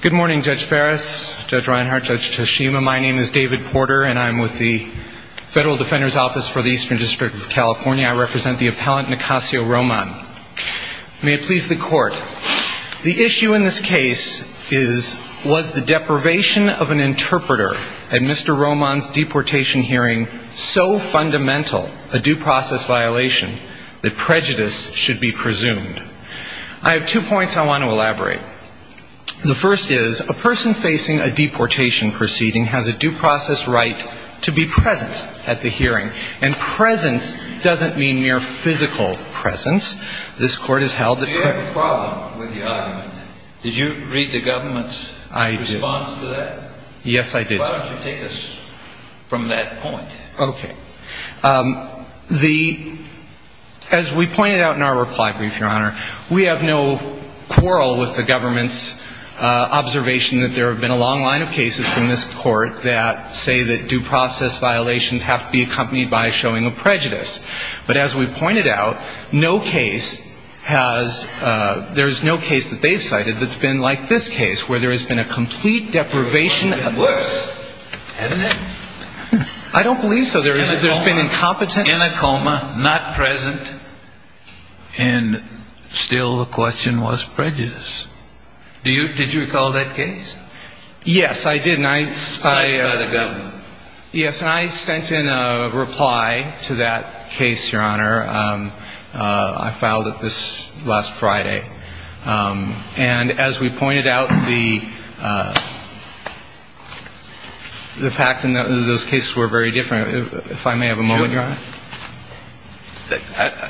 Good morning, Judge Farris, Judge Reinhart, Judge Toshima. My name is David Porter and I'm with the Federal Defender's Office for the Eastern District of California. I represent the appellant, Nicasio Roman. May it please the court, the issue in this case is, was the deprivation of an interpreter at Mr. Roman's deportation hearing so fundamental, a due process violation, that prejudice should be presumed? I have two points I want to elaborate. The first is, a person facing a deportation proceeding has a due process right to be present at the hearing. And presence doesn't mean mere physical presence. This Court has held that... Do you have a problem with the argument? Did you read the government's response to that? I did. Yes, I did. Why don't you take us from that point? Okay. The, as we pointed out in the government's observation that there have been a long line of cases from this Court that say that due process violations have to be accompanied by a showing of prejudice. But as we pointed out, no case has, there's no case that they've cited that's been like this case, where there has been a complete deprivation of... Worse, hasn't it? I don't believe so. There's been incompetent... And still the question was prejudice. Do you, did you recall that case? Yes, I did. And I... Cited by the government. Yes, and I sent in a reply to that case, Your Honor. I filed it this, last Friday. And as we pointed out, the fact in those cases were very different. If I may have a moment, Your Honor?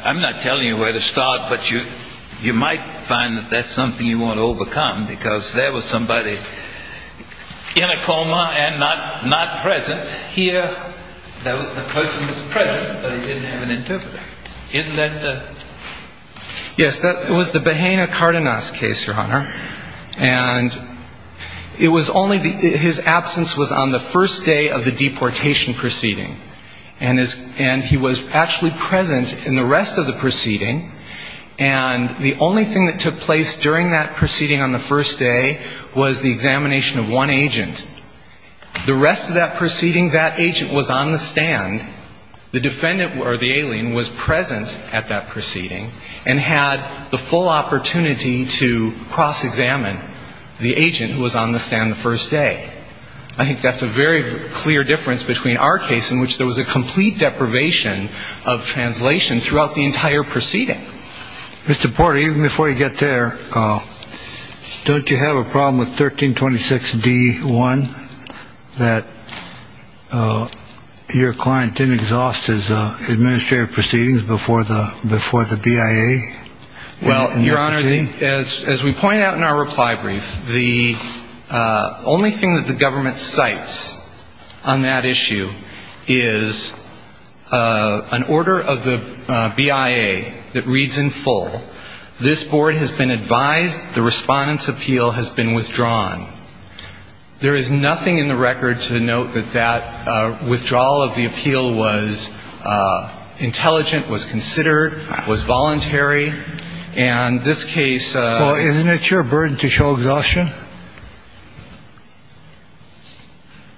I'm not telling you where to start, but you, you might find that that's something you want to overcome, because there was somebody in a coma and not, not present. Here, the person was present, but he didn't have an interpreter. Isn't that... Yes, that was the Bahena-Cardenas case, Your Honor. And it was only the, his absence was on the first day of the deportation proceeding. And his, and he was actually present in the rest of the proceeding. And the only thing that took place during that proceeding on the first day was the examination of one agent. The rest of that proceeding, that agent was on the stand. The defendant, or the alien, was present at that proceeding and had the full opportunity to cross-examine the agent who was on the stand the first day. I think that's a very clear difference between our case in which there was a complete deprivation of translation throughout the entire proceeding. Mr. Porter, even before you get there, don't you have a problem with 1326d-1, that your client didn't exhaust his administrative proceedings before the, before the BIA? Well, Your Honor, as we point out in our reply brief, the only thing that the government cites on that issue is an order of the BIA that reads in full, this Board has been advised the Respondent's appeal has been withdrawn. There is nothing in the record to note that that withdrawal of the appeal was intelligent, was considered, was voluntary. And this case of ---- Well, isn't it your burden to show exhaustion?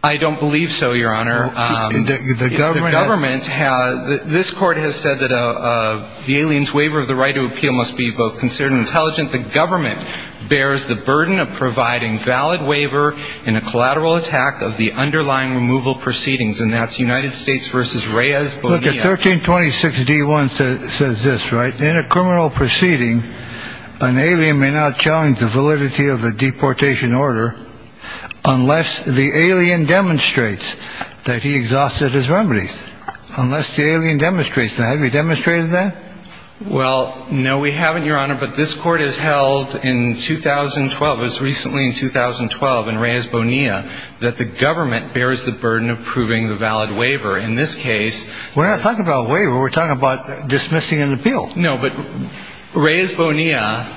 I don't believe so, Your Honor. The government has The government has, this Court has said that the alien's waiver of the right to appeal must be both considered and intelligent. The government bears the burden of providing valid waiver in a collateral attack of the underlying removal proceedings, and that's United States v. Reyes Bonilla. Look, at 1326d-1 says this, right? In a criminal proceeding, an alien may not challenge the deportation order unless the alien demonstrates that he exhausted his remedies, unless the alien demonstrates that. Have you demonstrated that? Well, no, we haven't, Your Honor, but this Court has held in 2012, it was recently in 2012 in Reyes Bonilla, that the government bears the burden of proving the valid waiver. In this case We're not talking about waiver. We're talking about dismissing an appeal. No, but Reyes Bonilla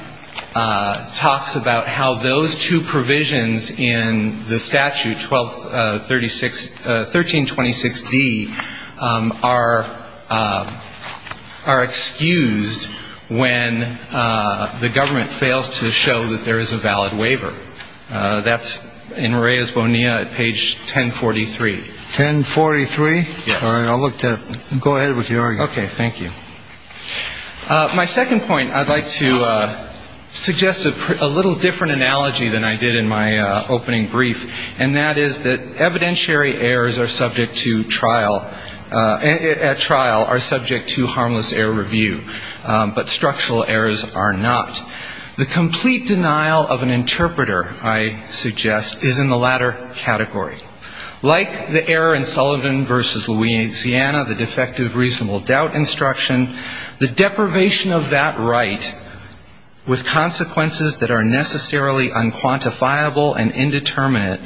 talks about how those two provisions in the statute, 1326d, are excused when the government fails to show that there is a valid waiver. That's in Reyes Bonilla at page 1043. 1043? Yes. All right. I'll look that up. Go ahead with your argument. Okay. Thank you. My second point, I'd like to suggest a little different analogy than I did in my opening brief, and that is that evidentiary errors are subject to trial at trial are subject to harmless error review, but structural errors are not. The complete denial of an interpreter, I suggest, is in the latter category. Like the error in Sullivan v. Louisiana, the defective reasonable doubt instruction, the deprivation of that right with consequences that are necessarily unquantifiable and indeterminate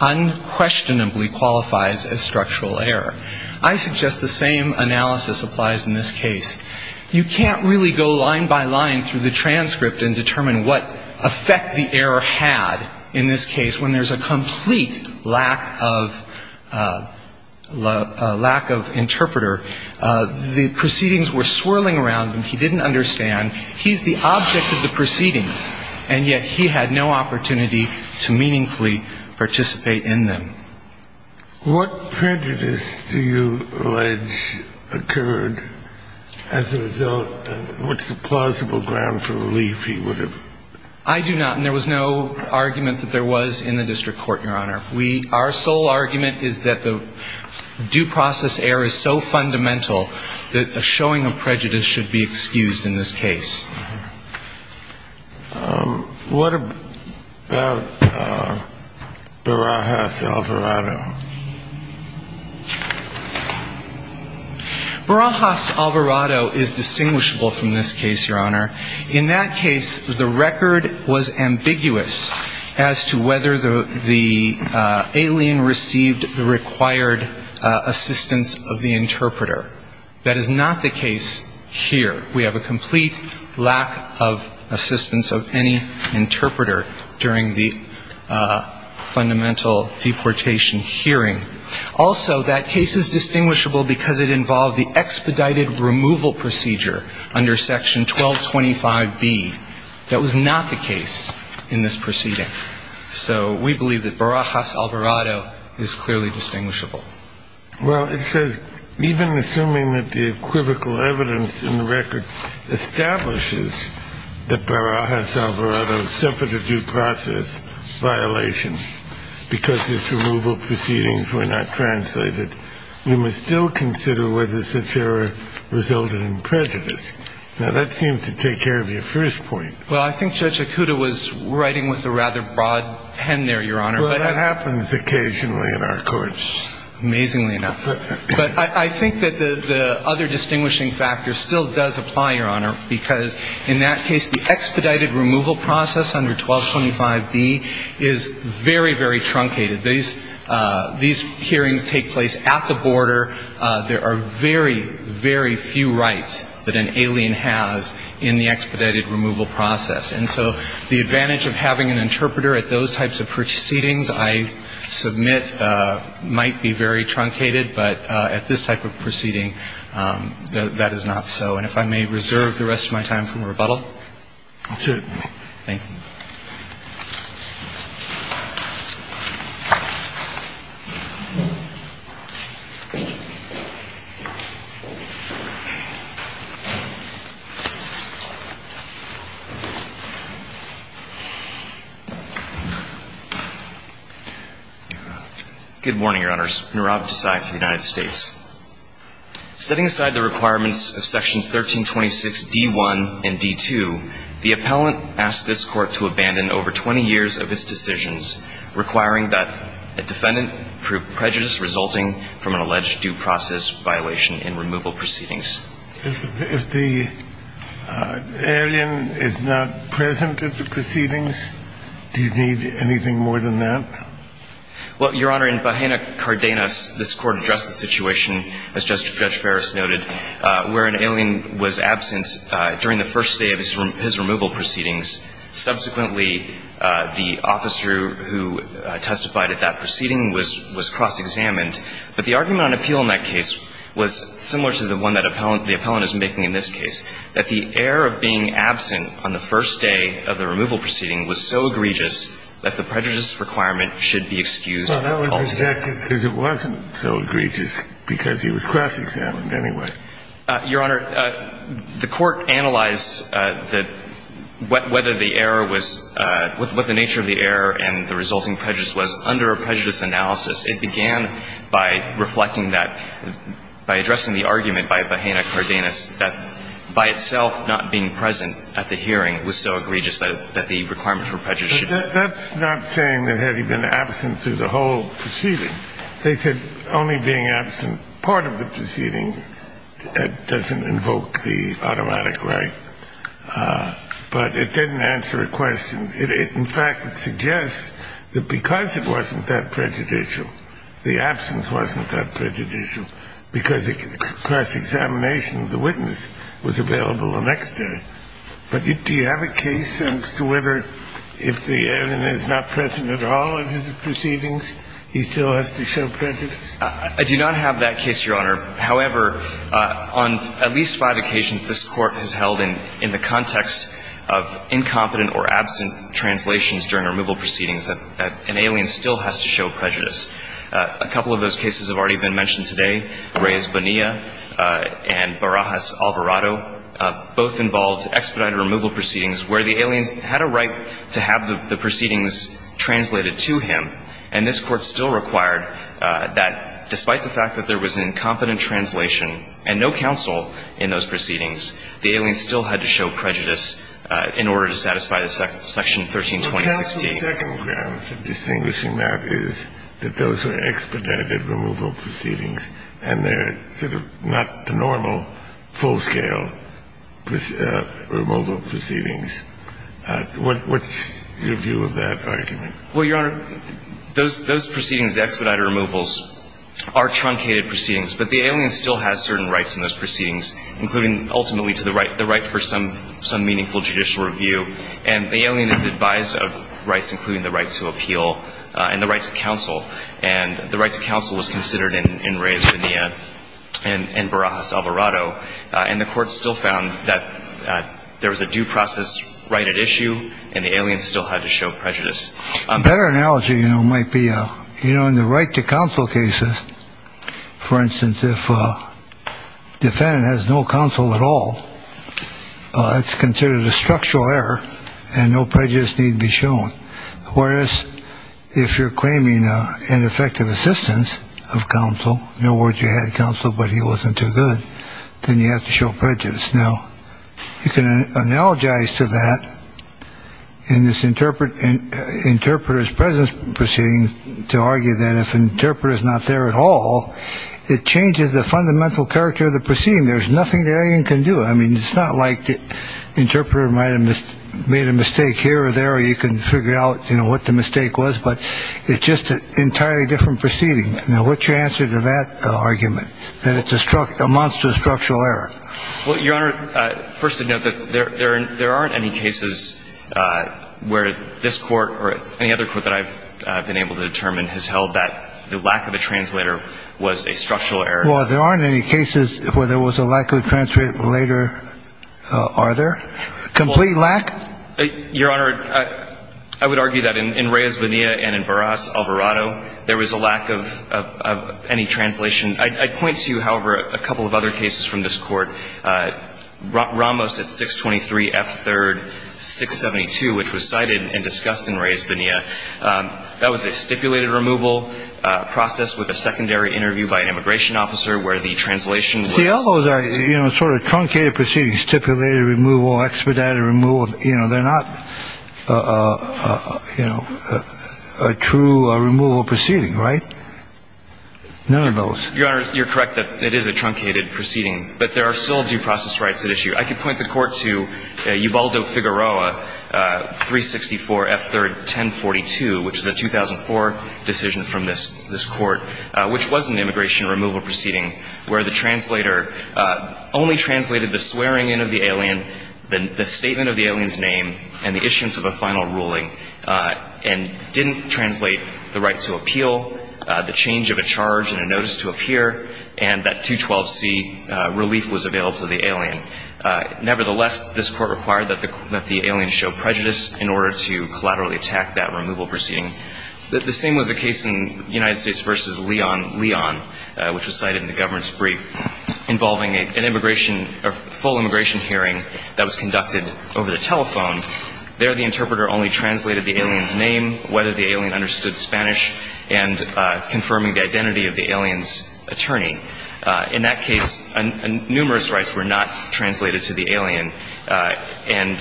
unquestionably qualifies as structural error. I suggest the same analysis applies in this case. You can't really go line by line through the transcript and determine what effect the error had in this case when there's a complete lack of interpreter. The proceedings were swirling around him. He didn't understand. He's the object of the proceedings, and yet he had no opportunity to meaningfully participate in them. What prejudice do you allege occurred as a result? What's the plausible ground for relief he would have? I do not, and there was no argument that there was in the district court, Your Honor. Our sole argument is that the due process error is so fundamental that a showing of prejudice should be excused in this case. What about Barajas-Alvarado? Barajas-Alvarado is distinguishable from this case, Your Honor. In that case, the record was ambiguous as to whether the alien received the required assistance of the interpreter. That is not the case here. We have a complete lack of assistance of any interpreter during the fundamental deportation hearing. Also, that case is distinguishable because it involved the expedited removal procedure under Section 1225B. That was not the case in this proceeding. So we believe that Barajas-Alvarado is clearly distinguishable. Well, it says, even assuming that the equivocal evidence in the record establishes that Barajas-Alvarado suffered a due process violation because his removal proceedings were not translated, we must still assume that Barajas-Alvarado was not a victim of a due process violation. Now, that seems to take care of your first point. Well, I think Judge Akuta was writing with a rather broad pen there, Your Honor. Well, that happens occasionally in our courts. Amazingly enough. But I think that the other distinguishing factor still does apply, Your Honor, because in that case, the expedited removal process under 1225B is very, very truncated. These hearings take place at the border. There are very, very few rights that an alien has in the expedited removal process. And so the advantage of having an interpreter at those types of proceedings I submit might be very truncated, but at this type of proceeding, that is not so. And if I may reserve the rest of my time for rebuttal. Absolutely. Thank you. Good morning, Your Honors. Nirav Desai for the United States. Setting aside the requirements of Sections 1326D1 and D2, the appellant asked this Court to abandon over 20 years of its decisions requiring that a defendant prove prejudice resulting from an alleged due process violation in removal proceedings. If the alien is not present at the proceedings, do you need anything more than that? Well, Your Honor, in Bahena Cardenas, this Court addressed the situation, as Judge Ferris noted, where an alien was absent during the first day of his removal proceedings. Subsequently, the officer who testified at that proceeding was cross-examined. But the argument on appeal in that case was similar to the one that the appellant is making in this case, that the error of being absent on the first day of the removal proceeding was so egregious that the prejudice requirement should be excused. Well, that was rejected because it wasn't so egregious, because he was cross-examined anyway. Your Honor, the Court analyzed whether the error was – what the nature of the error and the resulting prejudice was under a prejudice analysis. It began by reflecting that – by addressing the argument by Bahena Cardenas that by itself not being present at the hearing was so egregious that the requirement for prejudice should be excused. But that's not saying that had he been absent through the whole proceeding. They said only being absent part of the proceeding doesn't invoke the automatic right. But it didn't answer a question. In fact, it suggests that because it wasn't that prejudicial, the absence wasn't that prejudicial, because cross-examination of the witness was available the next day. But do you have a case as to whether if the alien is not present at all in his proceedings, he still has to show prejudice? I do not have that case, Your Honor. However, on at least five occasions, this Court has held in the context of incompetent or absent translations during removal proceedings that an alien still has to show prejudice. A couple of those cases have already been mentioned today, Reyes Bonilla and Barajas Alvarado. Both involved expedited removal proceedings where the alien had a right to have the proceedings translated to him. And this Court still required that despite the fact that there was an incompetent translation and no counsel in those proceedings, the alien still had to show prejudice in order to satisfy the section 13-2016. The second ground for distinguishing that is that those were expedited removal proceedings, and they're sort of not the normal full-scale removal proceedings. What's your view of that argument? Well, Your Honor, those proceedings, the expedited removals, are truncated proceedings, but the alien still has certain rights in those proceedings, including ultimately to the right for some meaningful judicial review. And the alien is advised of rights, including the right to appeal and the right to counsel. And the right to counsel was considered in Reyes Bonilla and Barajas Alvarado. And the Court still found that there was a due process right at issue, and the alien still had to show prejudice. A better analogy, you know, might be, you know, in the right to counsel cases, for instance, if a defendant has no counsel at all, it's considered a structural error and no prejudice need be shown. Whereas if you're claiming an effective assistance of counsel, in other words, you had counsel, but he wasn't too good, then you have to show prejudice. Now, you can analogize to that in this interpret and interpreters presence, to argue that if an interpreter is not there at all, it changes the fundamental character of the proceeding. There's nothing the alien can do. I mean, it's not like the interpreter might have made a mistake here or there, or you can figure out, you know, what the mistake was, but it's just an entirely different proceeding. Now, what's your answer to that argument, that it's a monster structural error? Well, Your Honor, first to note that there aren't any cases where this Court or any other Court that I've been able to determine has held that the lack of a translator was a structural error. Well, there aren't any cases where there was a lack of a translator, are there? Complete lack? Your Honor, I would argue that in Reyes-Vania and in Barras-Alvarado, there was a lack of any translation. I'd point to, however, a couple of other cases from this Court. Ramos at 623 F. 3rd, 672, which was cited and discussed in Reyes-Vania. That was a stipulated removal process with a secondary interview by an immigration officer where the translation was. See, all those are, you know, sort of truncated proceedings, stipulated removal, expedited removal. You know, they're not, you know, a true removal proceeding, right? None of those. Your Honor, you're correct that it is a truncated proceeding. But there are still due process rights at issue. I could point the Court to Ubaldo-Figueroa, 364 F. 3rd, 1042, which is a 2004 decision from this Court, which was an immigration removal proceeding where the translator only translated the swearing-in of the alien, the statement of the alien's name, and the issuance of a final ruling, and didn't translate the right to appeal, the change of a charge and a notice to appear, and that 212C relief was available to the alien. Nevertheless, this Court required that the alien show prejudice in order to collaterally attack that removal proceeding. The same was the case in United States v. Leon, Leon, which was cited in the government's brief, involving an immigration, a full immigration hearing that was conducted over the telephone. There, the interpreter only translated the alien's name, whether the alien understood Spanish, and confirming the identity of the alien's attorney. In that case, numerous rights were not translated to the alien, and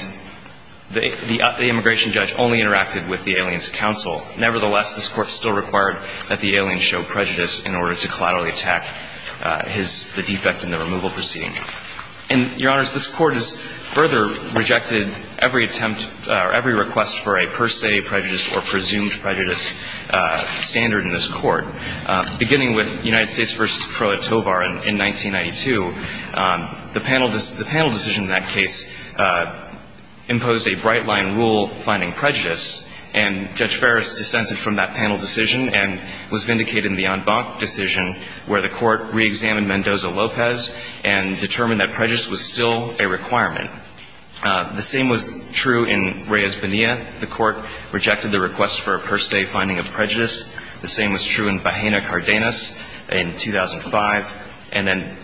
the immigration judge only interacted with the alien's counsel. Nevertheless, this Court still required that the alien show prejudice in order to collaterally attack his, the defect in the removal proceeding. And, Your Honors, this Court has further rejected every attempt or every request for a per se prejudice or presumed prejudice standard in this Court. Beginning with United States v. Crotovar in 1992, the panel decision in that case imposed a bright-line rule finding prejudice, and Judge Ferris dissented from that panel decision and was vindicated in the en banc decision, where the Court reexamined Mendoza-Lopez and determined that prejudice was still a requirement. The same was true in Reyes-Bonilla. The Court rejected the request for a per se finding of prejudice. The same was true in Bajena-Cardenas in 2005. And then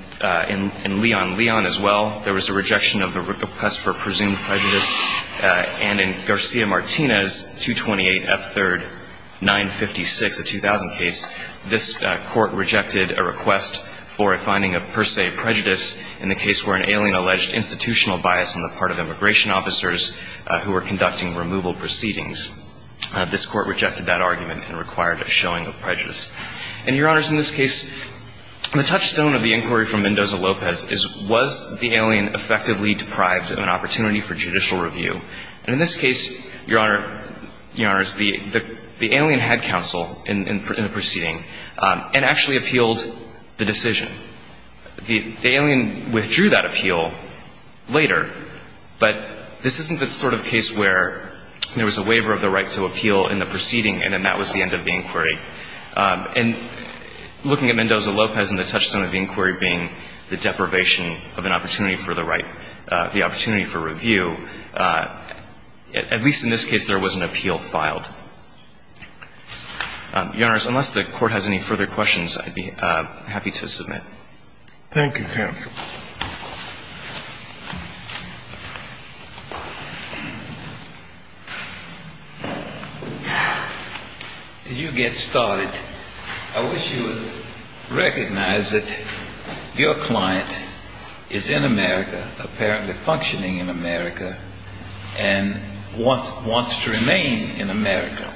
in Leon-Leon as well, there was a rejection of the request for presumed prejudice. And in Garcia-Martinez, 228 F. 3rd, 956, a 2000 case, this Court rejected a request for a finding of per se prejudice in the case where an alien alleged institutional bias on the part of immigration officers who were conducting removal proceedings. This Court rejected that argument and required a showing of prejudice. And, Your Honors, in this case, the touchstone of the inquiry from Mendoza-Lopez is was the alien effectively deprived of an opportunity for judicial review. And in this case, Your Honor, Your Honors, the alien had counsel in the proceeding and actually appealed the decision. The alien withdrew that appeal later, but this isn't the sort of case where there was a waiver of the right to appeal in the proceeding and then that was the end of the inquiry. And looking at Mendoza-Lopez and the touchstone of the inquiry being the deprivation of an opportunity for the right, the opportunity for review, at least in this case, there was an appeal filed. Your Honors, unless the Court has any further questions, I'd be happy to submit. Thank you, Counsel. As you get started, I wish you would recognize that your client is in America, apparently functioning in America, and wants to remain in America.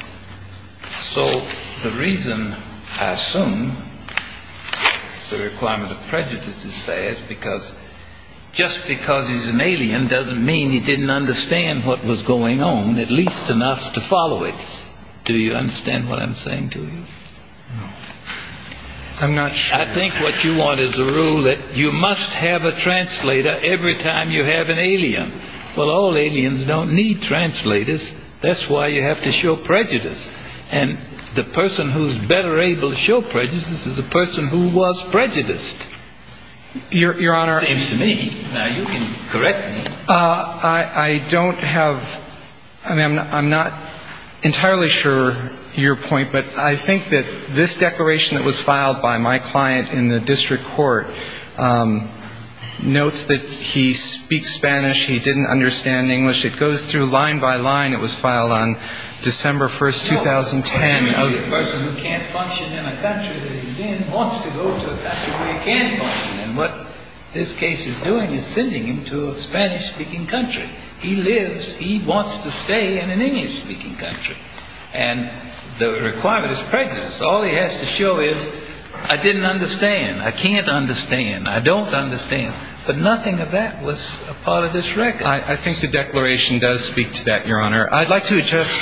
So the reason, I assume, the requirement of prejudice is fair is because just because he's an alien doesn't mean he didn't understand what was going on at least enough to follow it. Do you understand what I'm saying to you? No. I'm not sure. I think what you want is a rule that you must have a translator every time you have an alien. Well, all aliens don't need translators. That's why you have to show prejudice. And the person who's better able to show prejudice is the person who was prejudiced. Your Honor. Seems to me. Now, you can correct me. I don't have – I mean, I'm not entirely sure your point, but I think that this declaration that was filed by my client in the district court notes that he speaks Spanish. He didn't understand English. It goes through line by line. It was filed on December 1, 2010. No. A person who can't function in a country that he's in wants to go to a country where he can function. And what this case is doing is sending him to a Spanish-speaking country. He lives – he wants to stay in an English-speaking country. And the requirement is prejudice. All he has to show is, I didn't understand. I can't understand. I don't understand. But nothing of that was a part of this record. I think the declaration does speak to that, your Honor. I'd like to adjust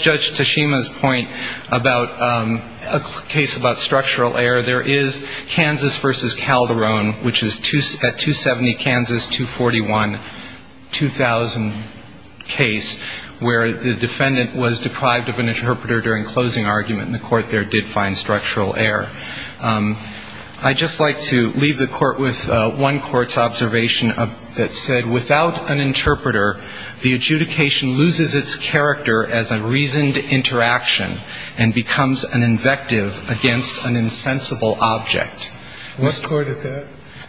Judge Tashima's point about a case about structural error. There is Kansas v. Calderon, which is at 270 Kansas, 241, 2000 case, where the defendant was deprived of an interpreter during closing argument, and the court there did find structural error. I'd just like to leave the court with one court's observation that said, without an interpreter, the adjudication loses its character as a reasoned interaction and becomes an invective against an insensible object. What court is that?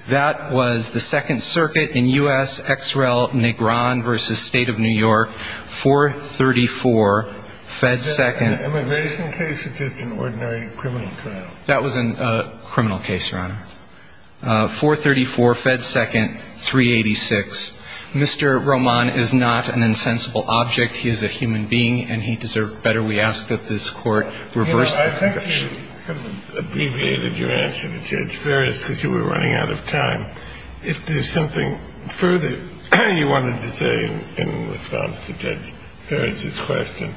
That was the Second Circuit in U.S. Ex Rel Negron v. State of New York, 434, Fed Second. Is that an immigration case or just an ordinary criminal trial? That was a criminal case, your Honor. 434, Fed Second, 386. Mr. Roman is not an insensible object. He is a human being, and he deserved better. We ask that this court reverse the conviction. You know, I think you abbreviated your answer to Judge Ferris because you were running out of time. If there's something further you wanted to say in response to Judge Ferris's question,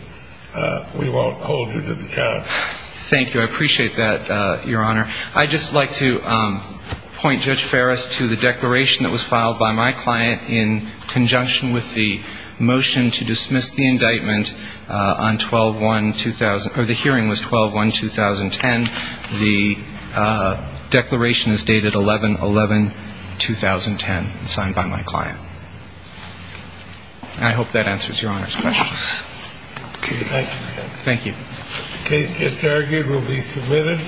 we won't hold you to the count. Thank you. I appreciate that, your Honor. I'd just like to point Judge Ferris to the declaration that was filed by my client in conjunction with the motion to dismiss the indictment on 12-1-2000 or the hearing was 12-1-2010. The declaration is dated 11-11-2010 and signed by my client. I hope that answers your Honor's question. Okay. Thank you. Thank you. The case just argued will be submitted.